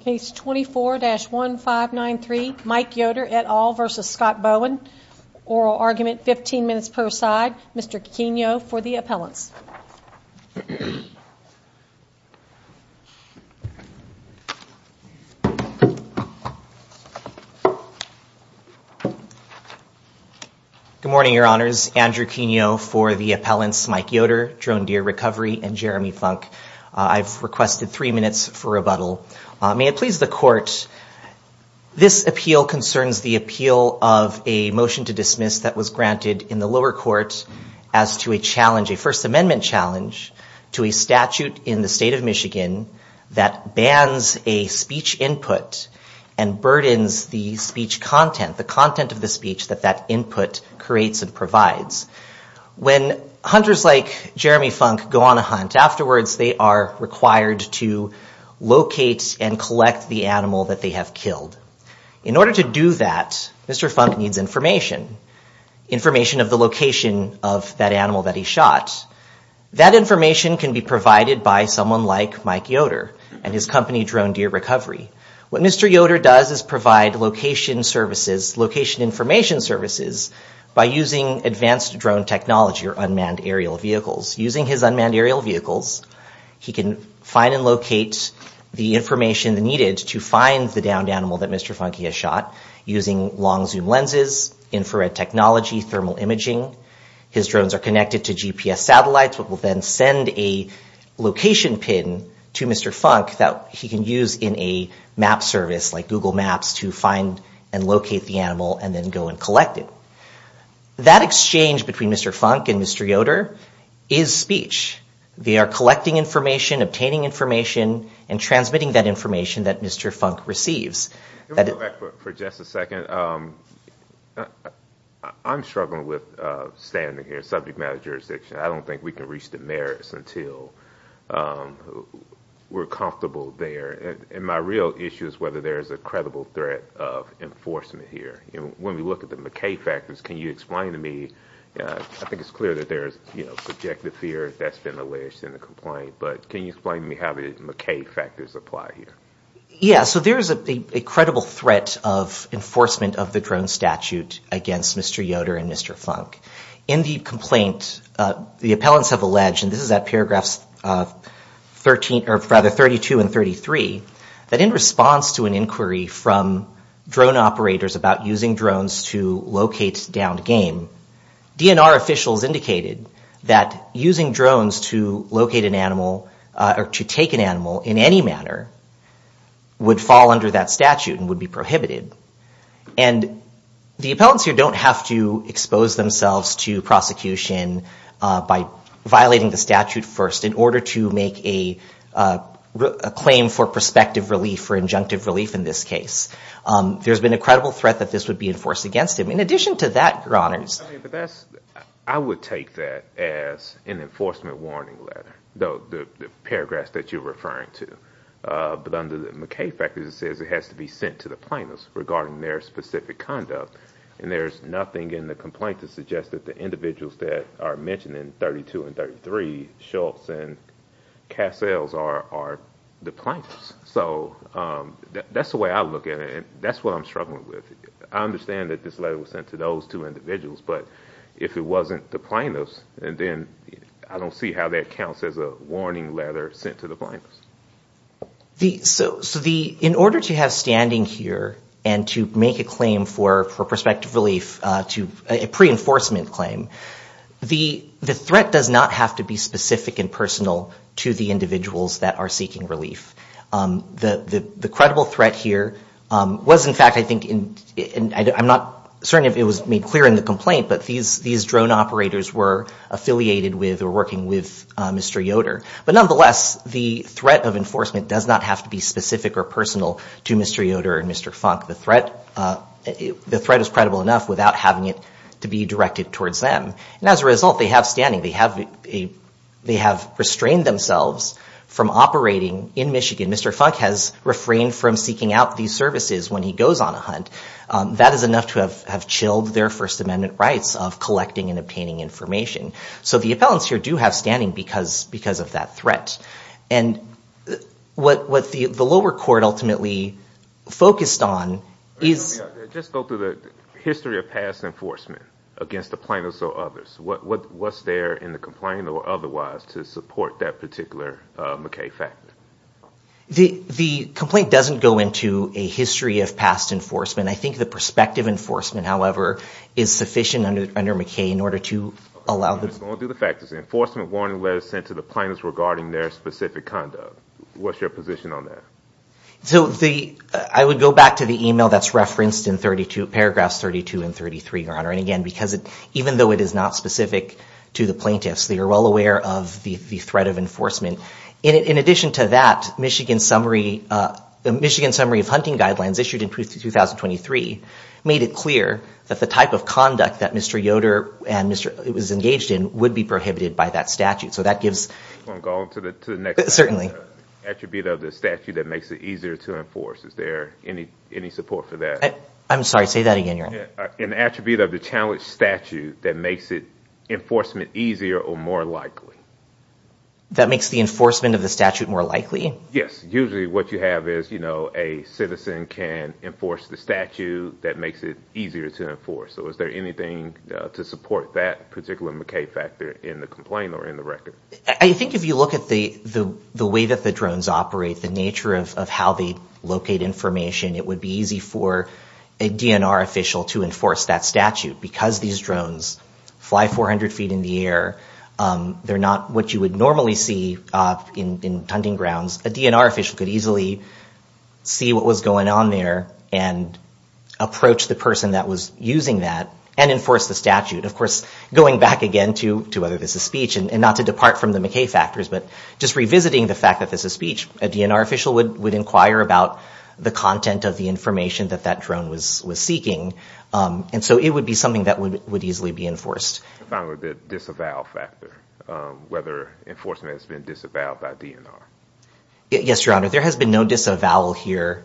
Case 24-1593, Mike Yoder et al versus Scott Bowen. Oral argument, 15 minutes per side. Mr. Quigno for the appellants. Good morning, your honors. Andrew Quigno for the appellants, Mike Yoder, Drone Deer Recovery and Jeremy Funk. I've requested three minutes for rebuttal. May it please the court, this appeal concerns the appeal of a motion to dismiss that was granted in the lower court as to a challenge, a First Amendment challenge to a statute in the state of Michigan that bans a speech input and burdens the speech content, the content of the speech that that input creates and provides. When hunters like Jeremy Funk go on a hunt, afterwards they are required to locate and collect the animal that they have killed. In order to do that, Mr. Funk needs information, information of the location of that animal that he shot. That information can be provided by someone like Mike Yoder and his company Drone Deer Recovery. What Mr. Yoder does is provide location services, location drone technology or unmanned aerial vehicles. Using his unmanned aerial vehicles, he can find and locate the information needed to find the downed animal that Mr. Funk has shot using long zoom lenses, infrared technology, thermal imaging. His drones are connected to GPS satellites, which will then send a location pin to Mr. Funk that he can use in a map service like Google Maps to find and locate the animal and then go and collect it. That exchange between Mr. Funk and Mr. Yoder is speech. They are collecting information, obtaining information and transmitting that information that Mr. Funk receives. Let me go back for just a second. I'm struggling with standing here, subject matter jurisdiction. I don't think we can reach the merits until we're comfortable there. My real issue is whether there is a credible threat of enforcement here. When we look at the McKay factors, can you explain to me? I think it's clear that there's subjective fear that's been alleged in the complaint, but can you explain to me how the McKay factors apply here? There is a credible threat of enforcement of the drone statute against Mr. Yoder and Mr. Funk. In the complaint, the appellants have alleged, and this is at paragraphs 32 and 33, that in response to an inquiry from drone operators about using drones to locate downed game, DNR officials indicated that using drones to locate an animal or to take an animal in any manner would fall under that statute and would be prohibited. The appellants here don't have to expose themselves to prosecution by violating the statute first in order to make a claim for prospective relief or injunctive relief in this case. There's been a credible threat that this would be enforced against him. In addition to that, your honors... I would take that as an enforcement warning letter, though the paragraphs that you're referring to, but under the McKay factors, it says it has to be sent to the plaintiffs regarding their specific conduct, and there's nothing in the complaint to suggest that the individuals that are mentioned in 32 and 33, Schultz and Cassell, are the plaintiffs. So that's the way I look at it, and that's what I'm struggling with. I understand that this letter was sent to those two individuals, but if it wasn't the plaintiffs, then I don't see how that counts as a warning letter sent to the plaintiffs. So in order to have standing here and to make a claim for prospective relief, a pre-enforcement claim, the threat does not have to be specific and personal to the individuals that are seeking relief. The credible threat here was in fact, I'm not certain if it was made clear in the complaint, but these drone operators were affiliated with or working with Mr. Yoder. But nonetheless, the threat of enforcement does not have to be specific or personal to Mr. Yoder and Mr. Funk. The threat is credible enough without having it to be directed towards them, and as a result, they have standing. They have restrained themselves from operating in Michigan. Mr. Funk has refrained from seeking out these services when he goes on a hunt. That is enough to have chilled their First Amendment rights of collecting and obtaining information. So the appellants here do have standing because of that threat. And what the lower court ultimately focused on is... Just go through the history of past enforcement against the plaintiffs or others. What's there in the complaint or otherwise to support that particular McKay fact? The complaint doesn't go into a history of past enforcement. I think the prospective enforcement, however, is sufficient under McKay in order to allow... Just go through the factors. Enforcement warning letters sent to the plaintiffs regarding their specific conduct. What's your position on that? So I would go back to the email that's referenced in paragraphs 32 and 33, Your Honor. And again, even though it is not specific to the plaintiffs, they are well aware of the threat of enforcement. In addition to that, the Michigan Summary of Hunting Guidelines issued in 2023 made it clear that the type of conduct that Mr. Yoder was engaged in would be prohibited by that statute. So that gives... I'm going to the next... Certainly. Attribute of the statute that makes it easier to enforce. Is there any support for that? I'm sorry, say that again, Your Honor. An attribute of the challenge statute that makes it enforcement easier or more likely. That makes the enforcement of the statute more likely? Yes. Usually what you have is, you know, a citizen can enforce the statute that makes it easier to enforce. So is there anything to support that particular McKay factor in the complaint or in the record? I think if you look at the way that the drones operate, the nature of how they locate information, it would be easy for a DNR official to enforce that statute. Because these drones fly 400 feet in the air, they're not what you would normally see in hunting grounds a DNR official could easily see what was going on there and approach the person that was using that and enforce the statute. Of course, going back again to whether this is speech, and not to depart from the McKay factors, but just revisiting the fact that this is speech, a DNR official would inquire about the content of the information that that drone was was seeking. And so it would be something that would easily be enforced. Finally, the disavowal whether enforcement has been disavowed by DNR. Yes, Your Honor. There has been no disavowal here,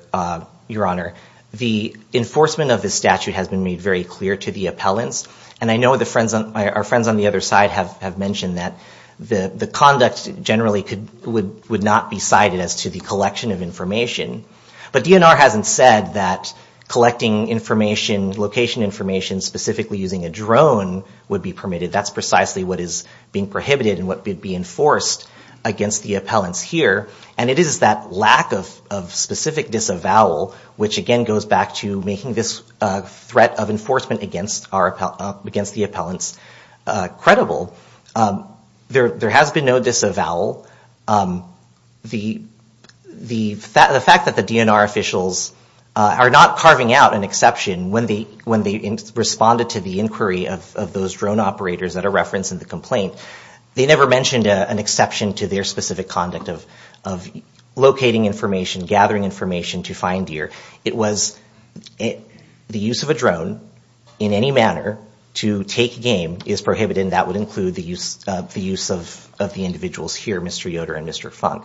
Your Honor. The enforcement of the statute has been made very clear to the appellants. And I know the friends on our friends on the other side have mentioned that the the conduct generally could would would not be cited as to the collection of information. But DNR hasn't said that collecting information, location information, specifically using a drone would be permitted. That's precisely what is being prohibited and what could be enforced against the appellants here. And it is that lack of specific disavowal, which again goes back to making this threat of enforcement against the appellants credible. There has been no disavowal. The fact that the DNR officials are not carving out an exception when they responded to the inquiry of those drone operators that are referenced in the complaint, they never mentioned an exception to their specific conduct of locating information, gathering information to find deer. It was the use of a drone in any manner to take game is prohibited and that would include the use of the individuals here, Mr. Yoder and Mr. Funk.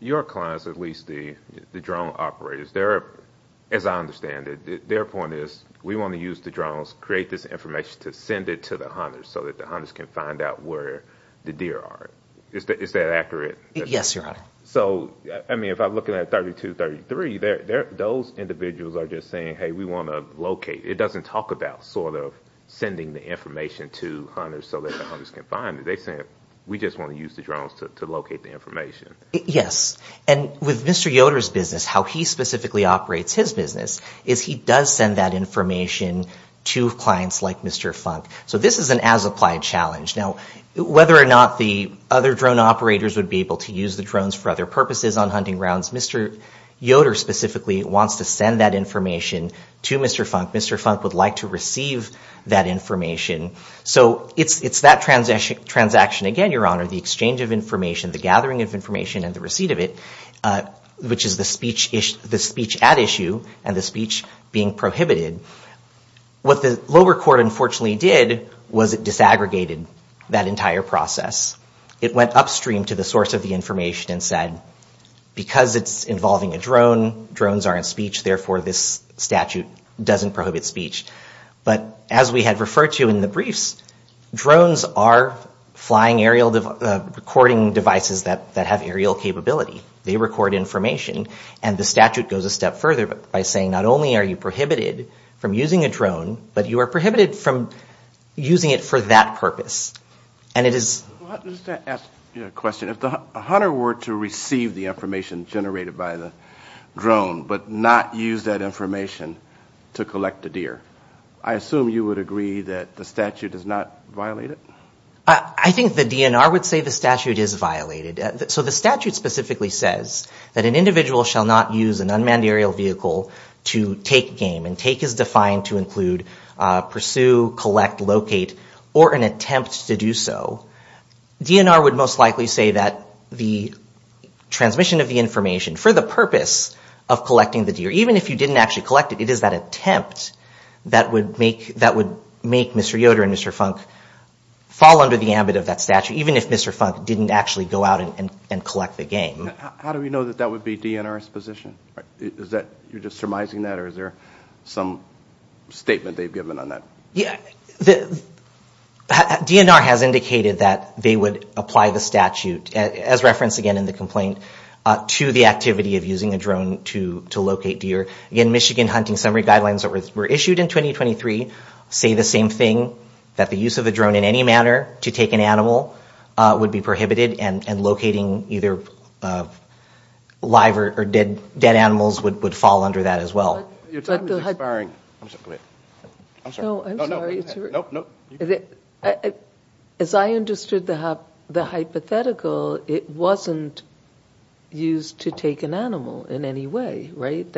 Your clients, at least the drone operators, as I understand it, their point is we want to use the drones, create this information to send it to the hunters so that the hunters can find out where the deer are. Is that accurate? Yes, Your Honor. So I mean if I'm looking at 3233, those individuals are just saying hey we want to locate. It doesn't talk about sort of sending the information to hunters so that the hunters can find it. They say we just want to use the drones to locate the information. Yes, and with Mr. Yoder's business, how he specifically operates his business is he does send that information to clients like Mr. Funk. So this is an as-applied challenge. Now whether or not the other drone operators would be able to use the drones for other purposes on hunting grounds, Mr. Yoder specifically wants to send that information to Mr. Funk. Mr. Funk would like to receive that information. So it's that transaction again, Your Honor, the exchange of information, the gathering of information, and the receipt of it, which is the speech at issue and the speech being prohibited. What the lower court unfortunately did was it disaggregated that entire process. It went upstream to the source of the information and said because it's involving a drone, drones aren't speech, therefore this statute doesn't prohibit speech. But as we had referred to in the case, drones are flying aerial recording devices that that have aerial capability. They record information and the statute goes a step further by saying not only are you prohibited from using a drone, but you are prohibited from using it for that purpose. And it is... If the hunter were to receive the information generated by the drone but not use that information to collect the deer, I assume you would agree that the statute does not violate it? I think the DNR would say the statute is violated. So the statute specifically says that an individual shall not use an unmanned aerial vehicle to take game. And take is defined to include pursue, collect, locate, or an attempt to do so. DNR would most likely say that the transmission of the information for the purpose of collecting the deer, even if you didn't actually collect it, it is that attempt that would make Mr. Yoder and Mr. Funk fall under the ambit of that statute, even if Mr. Funk didn't actually go out and collect the game. How do we know that that would be DNR's position? Is that you're just surmising that or is there some statement they've given on that? Yeah, the DNR has indicated that they would apply the statute, as referenced again in the complaint, to the activity of using a drone to locate deer. Again, Michigan Hunting Summary Guidelines that were issued in 2023 say the same thing, that the use of a drone in any manner to take an animal would be prohibited, and locating either live or dead animals would fall under that as well. As I understood the hypothetical, it wasn't used to take an animal in any way, right?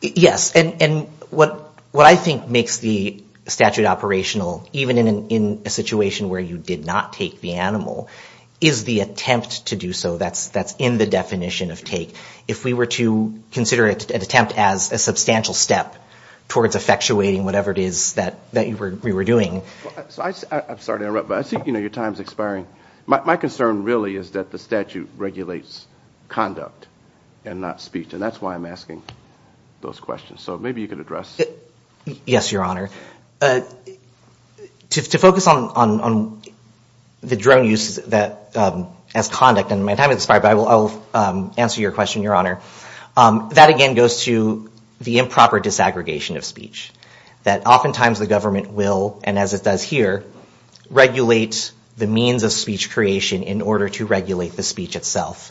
Yes, and what I think makes the statute operational, even in a situation where you did not take the animal, is the attempt to do so. That's in the definition of take. If we were to consider it an attempt as a substantial step towards effectuating whatever it is that we were doing. I'm sorry to interrupt, but I think your time is expiring. My concern really is that the statute regulates conduct and not speech, and that's why I'm asking those questions. So maybe you could address... Yes, Your Honor. To focus on the drone use as conduct, and my time is expired, but I will answer your question, Your Honor. That again goes to the improper disaggregation of speech, that oftentimes the government will, and as it does here, regulate the means of speech creation in order to regulate the speech itself.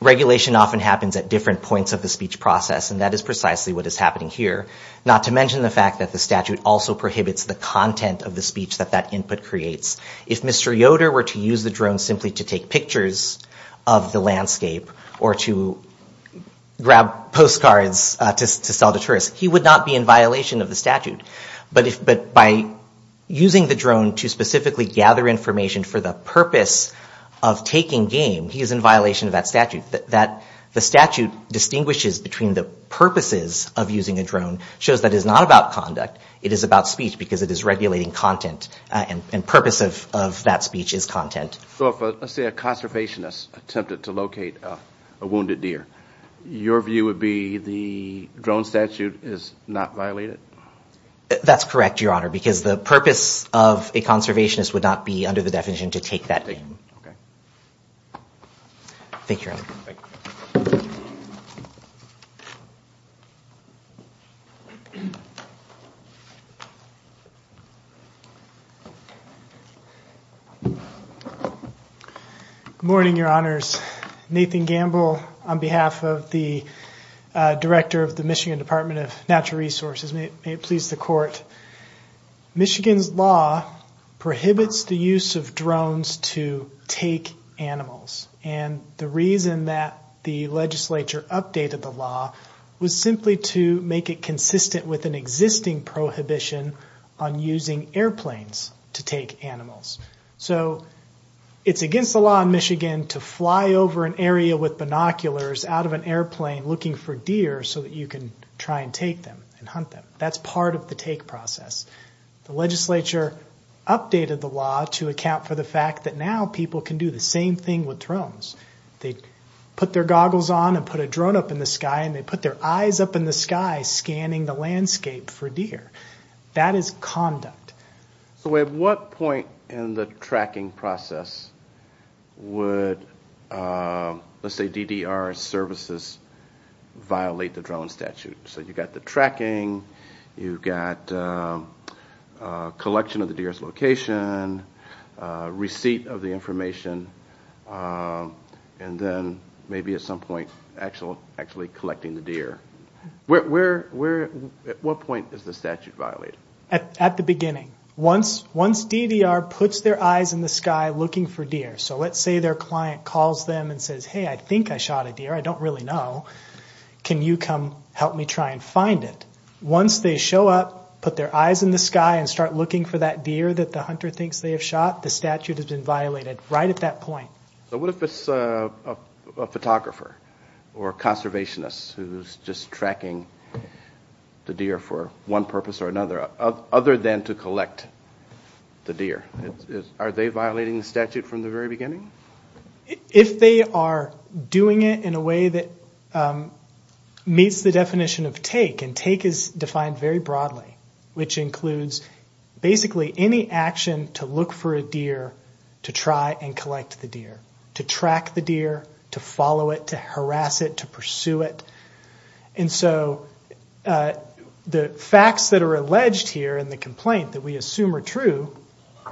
Regulation often happens at different points of the speech process, and that is precisely what is happening here. Not to mention the fact that the statute also prohibits the content of the speech that that input creates. If Mr. Yoder were to use the drone simply to take pictures of the landscape or to grab postcards to sell to tourists, he would not be in violation of the statute. But by using the drone to specifically gather information for the purpose of taking game, he is in violation of that statute. The statute distinguishes between the purposes of using a drone, shows that it is not about conduct, it is about speech because it is regulating content, and purpose of that speech is content. So if, let's say, a conservationist attempted to locate a wounded deer, your view would be the drone statute is not violated? That's correct, Your Honor, because the purpose of a conservationist would not be, under the definition, to take that game. Thank you, Your Honor. Good morning, Your Honors. Nathan Gamble on behalf of the Director of the Michigan Department of Natural Resources. May it please the court. Michigan's law prohibits the use of drones to take animals, and the reason that the legislature updated the law was simply to make it consistent with an existing prohibition on using airplanes to take animals. So it's against the law in Michigan to fly over an area with binoculars out of an airplane looking for deer so that you can try and take them and hunt them. That's part of the take process. The legislature updated the law to account for the fact that now people can do the same thing with drones. They put their goggles on and put a drone up in the sky and they put their eyes up in the sky scanning the landscape for deer. That is conduct. So at what point in the tracking process would, let's say, DDR services violate the drone statute? So you've got the tracking, you've got collection of the deer's location, receipt of the information, and then maybe at some point actually collecting the deer. At what point is the statute violated? At the beginning. Once DDR puts their eyes in the sky looking for deer, so let's say their client calls them and says, hey I think I shot a deer, I don't really know, can you come help me try and find it? Once they show up, put their eyes in the sky, and start looking for that deer that the hunter thinks they have shot, the statute has been violated right at that point. So what if it's a photographer or conservationist who's just tracking the deer for one purpose or another, other than to collect the deer? Are they violating the statute from the very beginning? If they are doing it in a way that meets the definition of take, and take is defined very broadly, which includes basically any action to look for a deer to try and collect the deer, to track the deer, to follow it, to harass it, to pursue it. The facts that are alleged here in the complaint that we assume are true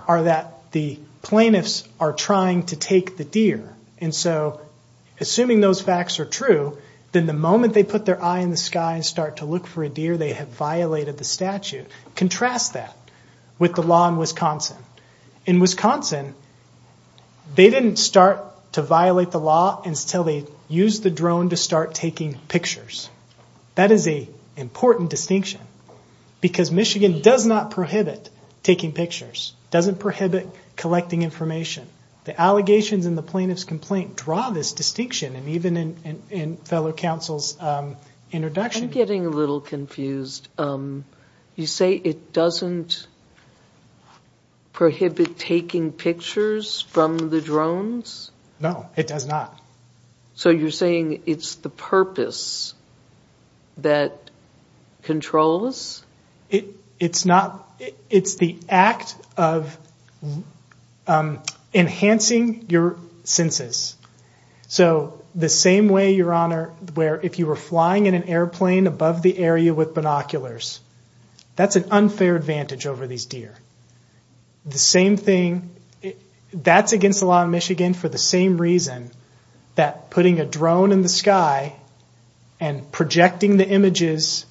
are that the plaintiffs are trying to take the deer. Assuming those facts are true, then the moment they put their eye in the sky and start to look for a deer, they have violated the statute. Contrast that with the law in Wisconsin. In Wisconsin, they didn't start to violate the law until they used the drone to start taking pictures. That is an important distinction, because Michigan does not prohibit taking pictures, doesn't prohibit collecting information. The allegations in the plaintiff's complaint draw this distinction, and even in fellow counsel's introduction... I'm getting a little confused. You say it doesn't prohibit taking pictures from the drones? No, it does not. So you're saying it's the purpose that controls? It's the act of enhancing your senses. So the same way, Your Honor, where if you were flying in an airplane above the area with binoculars, that's an unfair advantage over these deer. The same thing, that's against the law in Michigan for the same reason, that putting a drone in the sky and projecting the images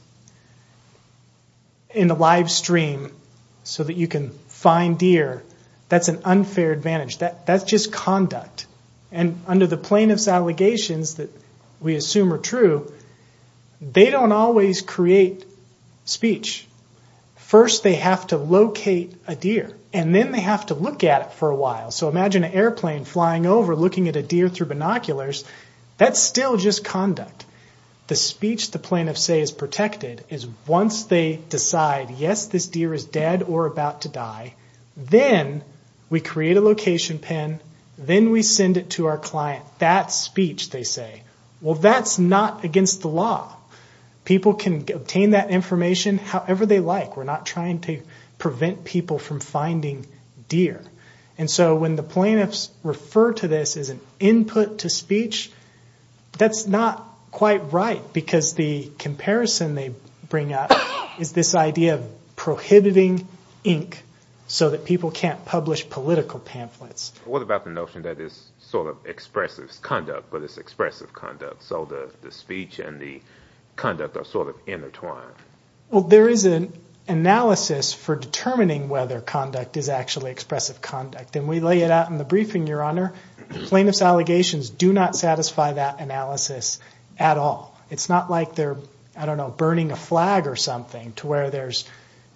in a live stream so that you can find deer, that's an unfair advantage. That's just conduct, and under the plaintiff's allegations that we assume are true, they don't always create speech. First, they have to locate a deer, and then they have to look at it for a while. So imagine an airplane flying over looking at a deer through binoculars. That's still just conduct. The speech the plaintiff says is protected is once they decide, yes, this deer is dead or about to die, then we create a location pin, then we send it to our client. That's speech, they say. Well, that's not against the law. People can obtain that information however they like. We're not trying to prevent people from finding deer. So when the plaintiffs refer to this as an input to speech, that's not quite right, because the comparison they bring up is this idea of prohibiting ink so that people can't publish political pamphlets. What about the notion that it's sort of expressive conduct, but it's expressive conduct, so the speech and the conduct are sort of intertwined? Well, there is an analysis for determining whether conduct is actually expressive conduct, and we lay it out in the briefing, Your Honor. The plaintiff's allegations do not satisfy that analysis at all. It's not like they're, I don't know, burning a flag or something to where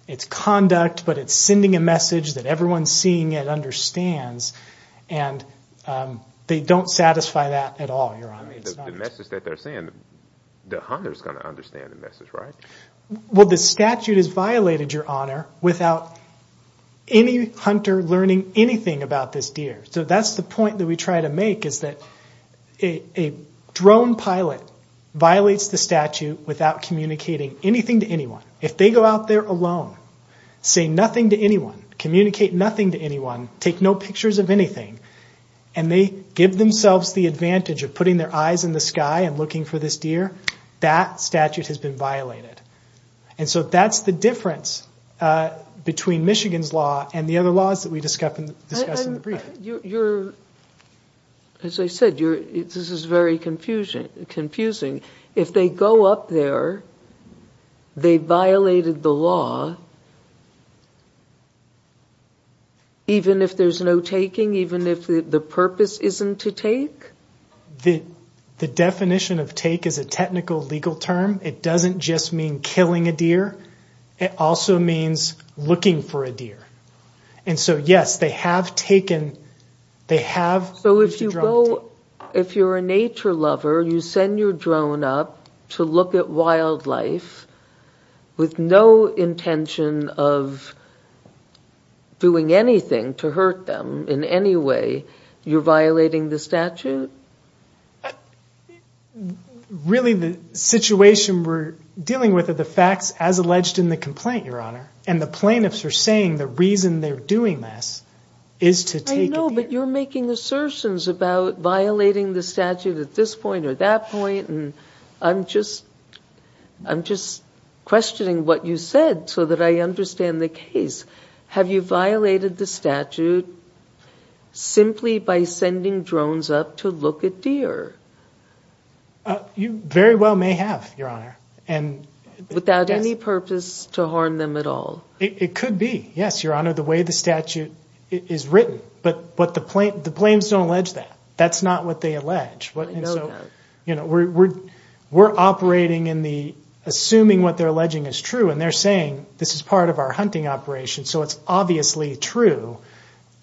it's conduct, but it's sending a message that everyone seeing it understands, and they don't satisfy that at all, Your Honor. The message that they're saying, the hunter's going to understand the message, right? Well, the statute has violated, Your Honor, without any hunter learning anything about this deer. So that's the point that we try to make, is that a drone pilot violates the statute without communicating anything to anyone. If they go out there alone, say nothing to anyone, communicate nothing to anyone, take no pictures of anything, and they give themselves the advantage of putting their eyes in the sky and looking for this deer, that statute has been violated. And so that's the difference between Michigan's law and the other laws that we discuss in the briefing. And you're, as I said, this is very confusing. If they go up there, they violated the law, even if there's no taking, even if the purpose isn't to take? The definition of take is a technical legal term. It doesn't just mean killing a deer. It also means looking for a deer. And so, yes, they have taken, they have used a drone. So if you go, if you're a nature lover, you send your drone up to look at wildlife with no intention of doing anything to hurt them in any way, you're violating the statute? Really, the situation we're dealing with are the facts as alleged in the complaint, Your Honor. And the plaintiffs are saying the reason they're doing this is to take a deer. I know, but you're making assertions about violating the statute at this point or that point. And I'm just questioning what you said so that I understand the case. Have you violated the statute simply by sending drones up to look at deer? You very well may have, Your Honor. Without any purpose to harm them at all? It could be, yes, Your Honor, the way the statute is written. But the plaintiffs don't allege that. That's not what they allege. I know that. We're operating in the assuming what they're alleging is true. And they're saying this is part of our hunting operation. So it's obviously true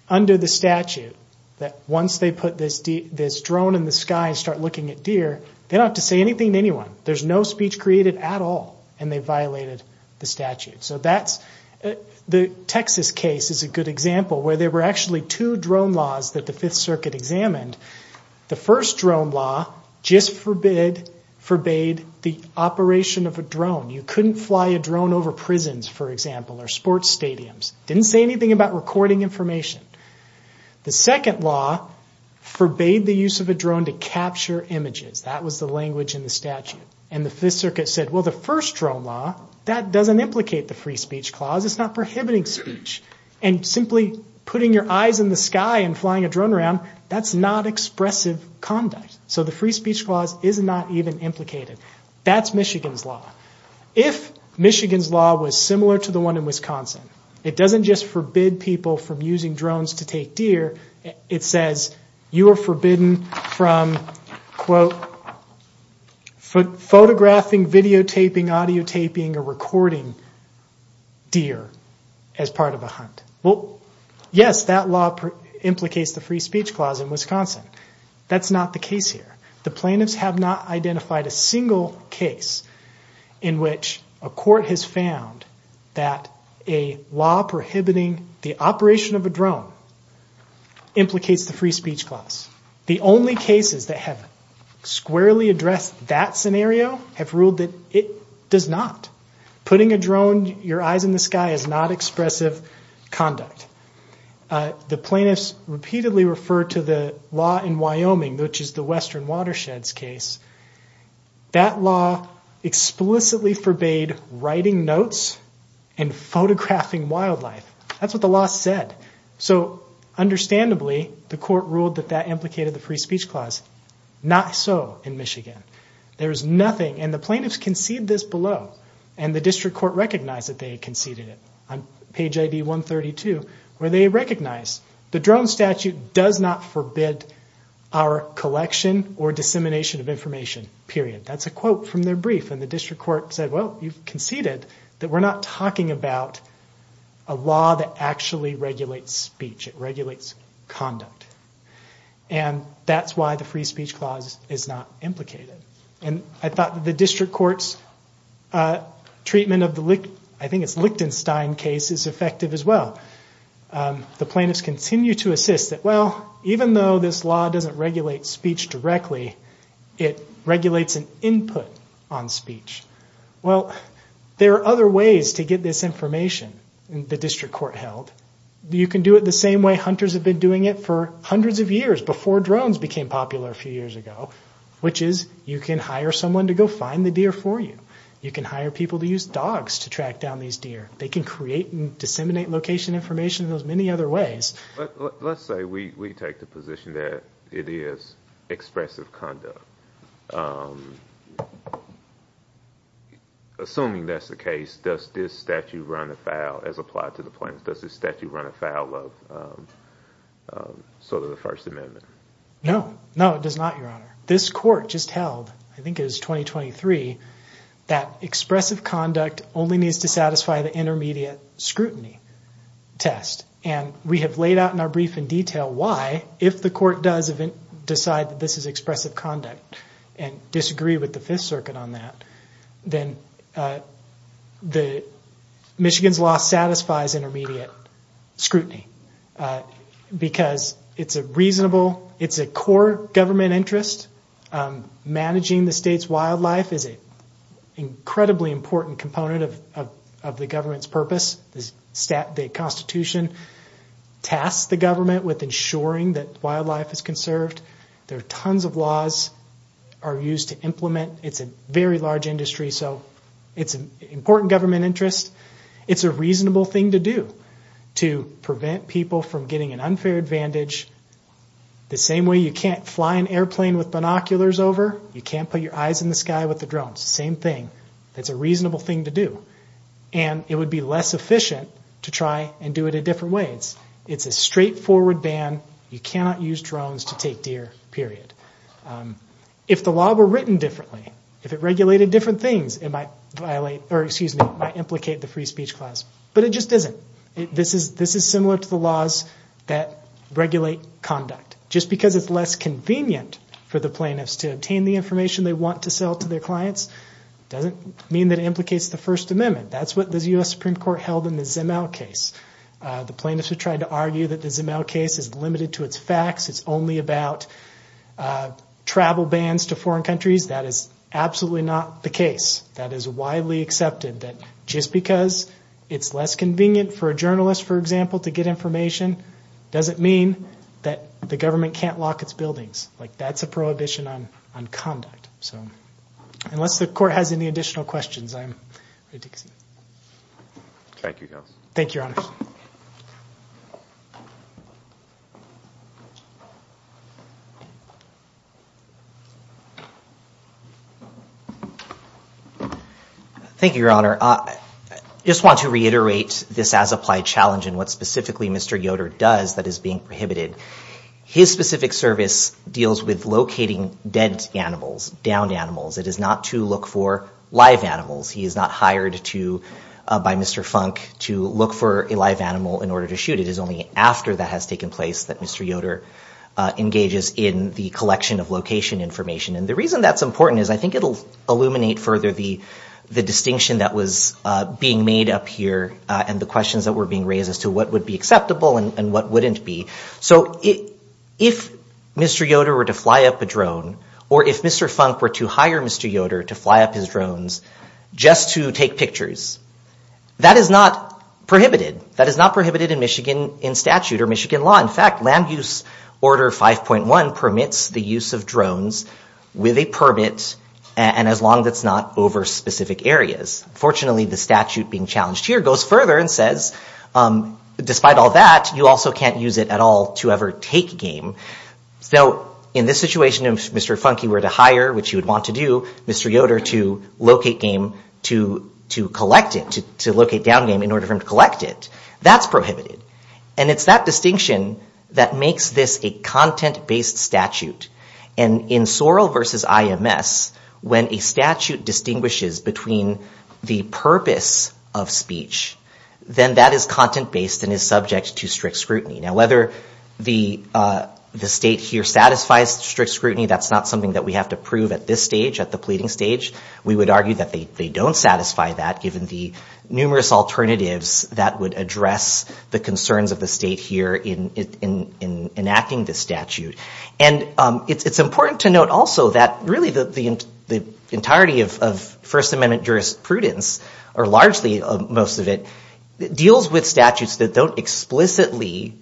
under the statute that once they put this drone in the sky and start looking at deer, they don't have to say anything to anyone. There's no speech created at all. And they violated the statute. So the Texas case is a good example where there were actually two drone laws that the Fifth Circuit examined. The first drone law just forbade the operation of a drone. You couldn't fly a drone over prisons, for example, or sports stadiums. Didn't say anything about recording information. The second law forbade the use of a drone to capture images. That was the language in the statute. And the Fifth Circuit said, well, the first drone law, that doesn't implicate the free speech clause. It's not prohibiting speech. And simply putting your eyes in the sky and flying a drone around, that's not expressive conduct. So the free speech clause is not even implicated. That's Michigan's law. If Michigan's law was similar to the one in Wisconsin, it doesn't just forbid people from using drones to take deer. It says you are forbidden from, quote, photographing, videotaping, audiotaping, or recording deer as part of a hunt. Well, yes, that law implicates the free speech clause in Wisconsin. That's not the case here. The plaintiffs have not identified a single case in which a court has found that a law prohibiting the operation of a drone implicates the free speech clause. The only cases that have squarely addressed that scenario have ruled that it does not. Putting a drone, your eyes in the sky, is not expressive conduct. The plaintiffs repeatedly referred to the law in Wyoming, which is the Western Watersheds case. That law explicitly forbade writing notes and photographing wildlife. That's what the law said. So understandably, the court ruled that that implicated the free speech clause. Not so in Michigan. There is nothing, and the plaintiffs conceded this below, and the district court recognized that they conceded it on page ID 132, where they recognize the drone statute does not forbid our collection or dissemination of information, period. That's a quote from their brief, and the district court said, well, you've conceded that we're not talking about a law that actually regulates speech. It regulates conduct. And that's why the free speech clause is not implicated. I thought that the district court's treatment of the, I think it's Lichtenstein case, is effective as well. The plaintiffs continue to assist that, well, even though this law doesn't regulate speech directly, it regulates an input on speech. Well, there are other ways to get this information, the district court held. You can do it the same way hunters have been doing it for hundreds of years before drones became popular a few years ago, which is you can hire someone to go find the deer for you. You can hire people to use dogs to track down these deer. They can create and disseminate location information in those many other ways. But let's say we take the position that it is expressive conduct. Assuming that's the case, does this statute run afoul, as applied to the first amendment? No. No, it does not, Your Honor. This court just held, I think it was 2023, that expressive conduct only needs to satisfy the intermediate scrutiny test. And we have laid out in our brief in detail why, if the court does decide that this is expressive conduct and disagree with the Fifth Circuit on that, then Michigan's law satisfies intermediate scrutiny, because it's a reasonable, it's a core government interest. Managing the state's wildlife is an incredibly important component of the government's purpose. The Constitution tasks the government with ensuring that wildlife is conserved. There are tons of laws are used to implement. It's a very large industry, so it's an important government interest. It's a reasonable thing to do, to prevent people from getting an unfair advantage. The same way you can't fly an airplane with binoculars over, you can't put your eyes in the sky with the drone. It's the same thing. It's a reasonable thing to do. And it would be less efficient to try and do it a different way. It's a straightforward ban. You cannot use drones to take deer, period. If the law were written differently, if it regulated different things, it might violate, or excuse me, it might implicate the free speech clause. But it just isn't. This is similar to the laws that regulate conduct. Just because it's less convenient for the plaintiffs to obtain the information they want to sell to their clients doesn't mean that it implicates the First Amendment. That's what the U.S. Supreme Court held in the Ismael case. It's limited to its facts. It's only about travel bans to foreign countries. That is absolutely not the case. That is widely accepted, that just because it's less convenient for a journalist, for example, to get information doesn't mean that the government can't lock its buildings. That's a prohibition on conduct. Unless the Court has any additional questions, I'm ready to go. Thank you, Your Honor. Thank you, Your Honor. I just want to reiterate this as-applied challenge and what specifically Mr. Yoder does that is being prohibited. His specific service deals with locating dead animals, downed animals. It is not to look for live animals. He is not hired by Mr. Funk to look for a live animal in order to shoot. It is only after that has taken place that Mr. Yoder engages in the collection of location information. And the reason that's important is I think it will illuminate further the distinction that was being made up here and the questions that were being raised as to what would be acceptable and what wouldn't be. So if Mr. Yoder were to fly up a mountain and step up his drones just to take pictures, that is not prohibited. That is not prohibited in Michigan in statute or Michigan law. In fact, land use order 5.1 permits the use of drones with a permit and as long as it's not over specific areas. Fortunately, the statute being challenged here goes further and says, despite all that, you also can't use it at all to ever take game. So in this situation, if Mr. Funky were to hire, which he would want to do, Mr. Yoder to locate game to collect it, to locate downed game in order for him to collect it, that's prohibited. And it's that distinction that makes this a content-based statute. And in Sorrell versus IMS, when a statute distinguishes between the purpose of speech, then that is content-based and is subject to strict scrutiny. Now whether the state here satisfies strict scrutiny, that's not something that we have to prove at this stage, at the pleading stage. We would argue that they don't satisfy that given the numerous alternatives that would address the concerns of the state here in enacting this statute. And it's important to note also that really the entirety of First Amendment jurisprudence, or largely most of it, deals with statutes that don't explicitly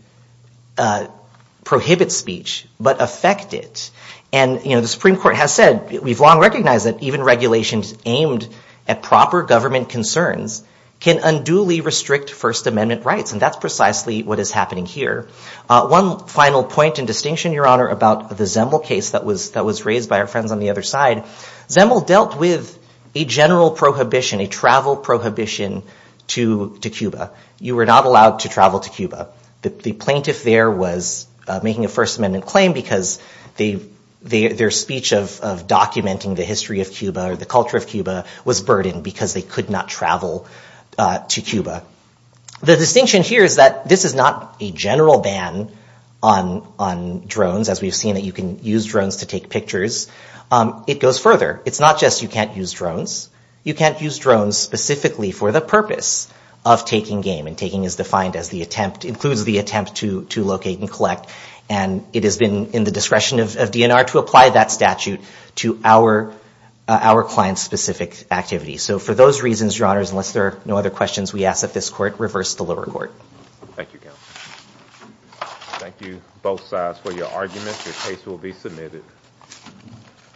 prohibit speech, but affect it. And the Supreme Court has said, we've long recognized that even regulations aimed at proper government concerns can unduly restrict First Amendment rights. And that's precisely what is happening here. One final point and distinction, Your Honor, about the Zemel case that was raised by our friends on the other side. Zemel dealt with a general prohibition, a travel prohibition to Cuba. You were not allowed to travel to Cuba. The plaintiff there was making a First Amendment claim because their speech of documenting the history of Cuba or the culture of Cuba was burdened because they could not travel to Cuba. The distinction here is that this is not a general ban on drones, as we've seen that you can use drones to take pictures. It goes further. It's not just you can't use drones. You can't use drones specifically for the purpose of taking game, and taking is defined as the attempt, includes the attempt to locate and collect. And it has been in the discretion of DNR to apply that statute to our client-specific activity. So for those reasons, Your Honor, unless there are no other questions, we ask that this Court reverse the lower court. Thank you, Counsel. Thank you, both sides, for your arguments. Your case will be submitted.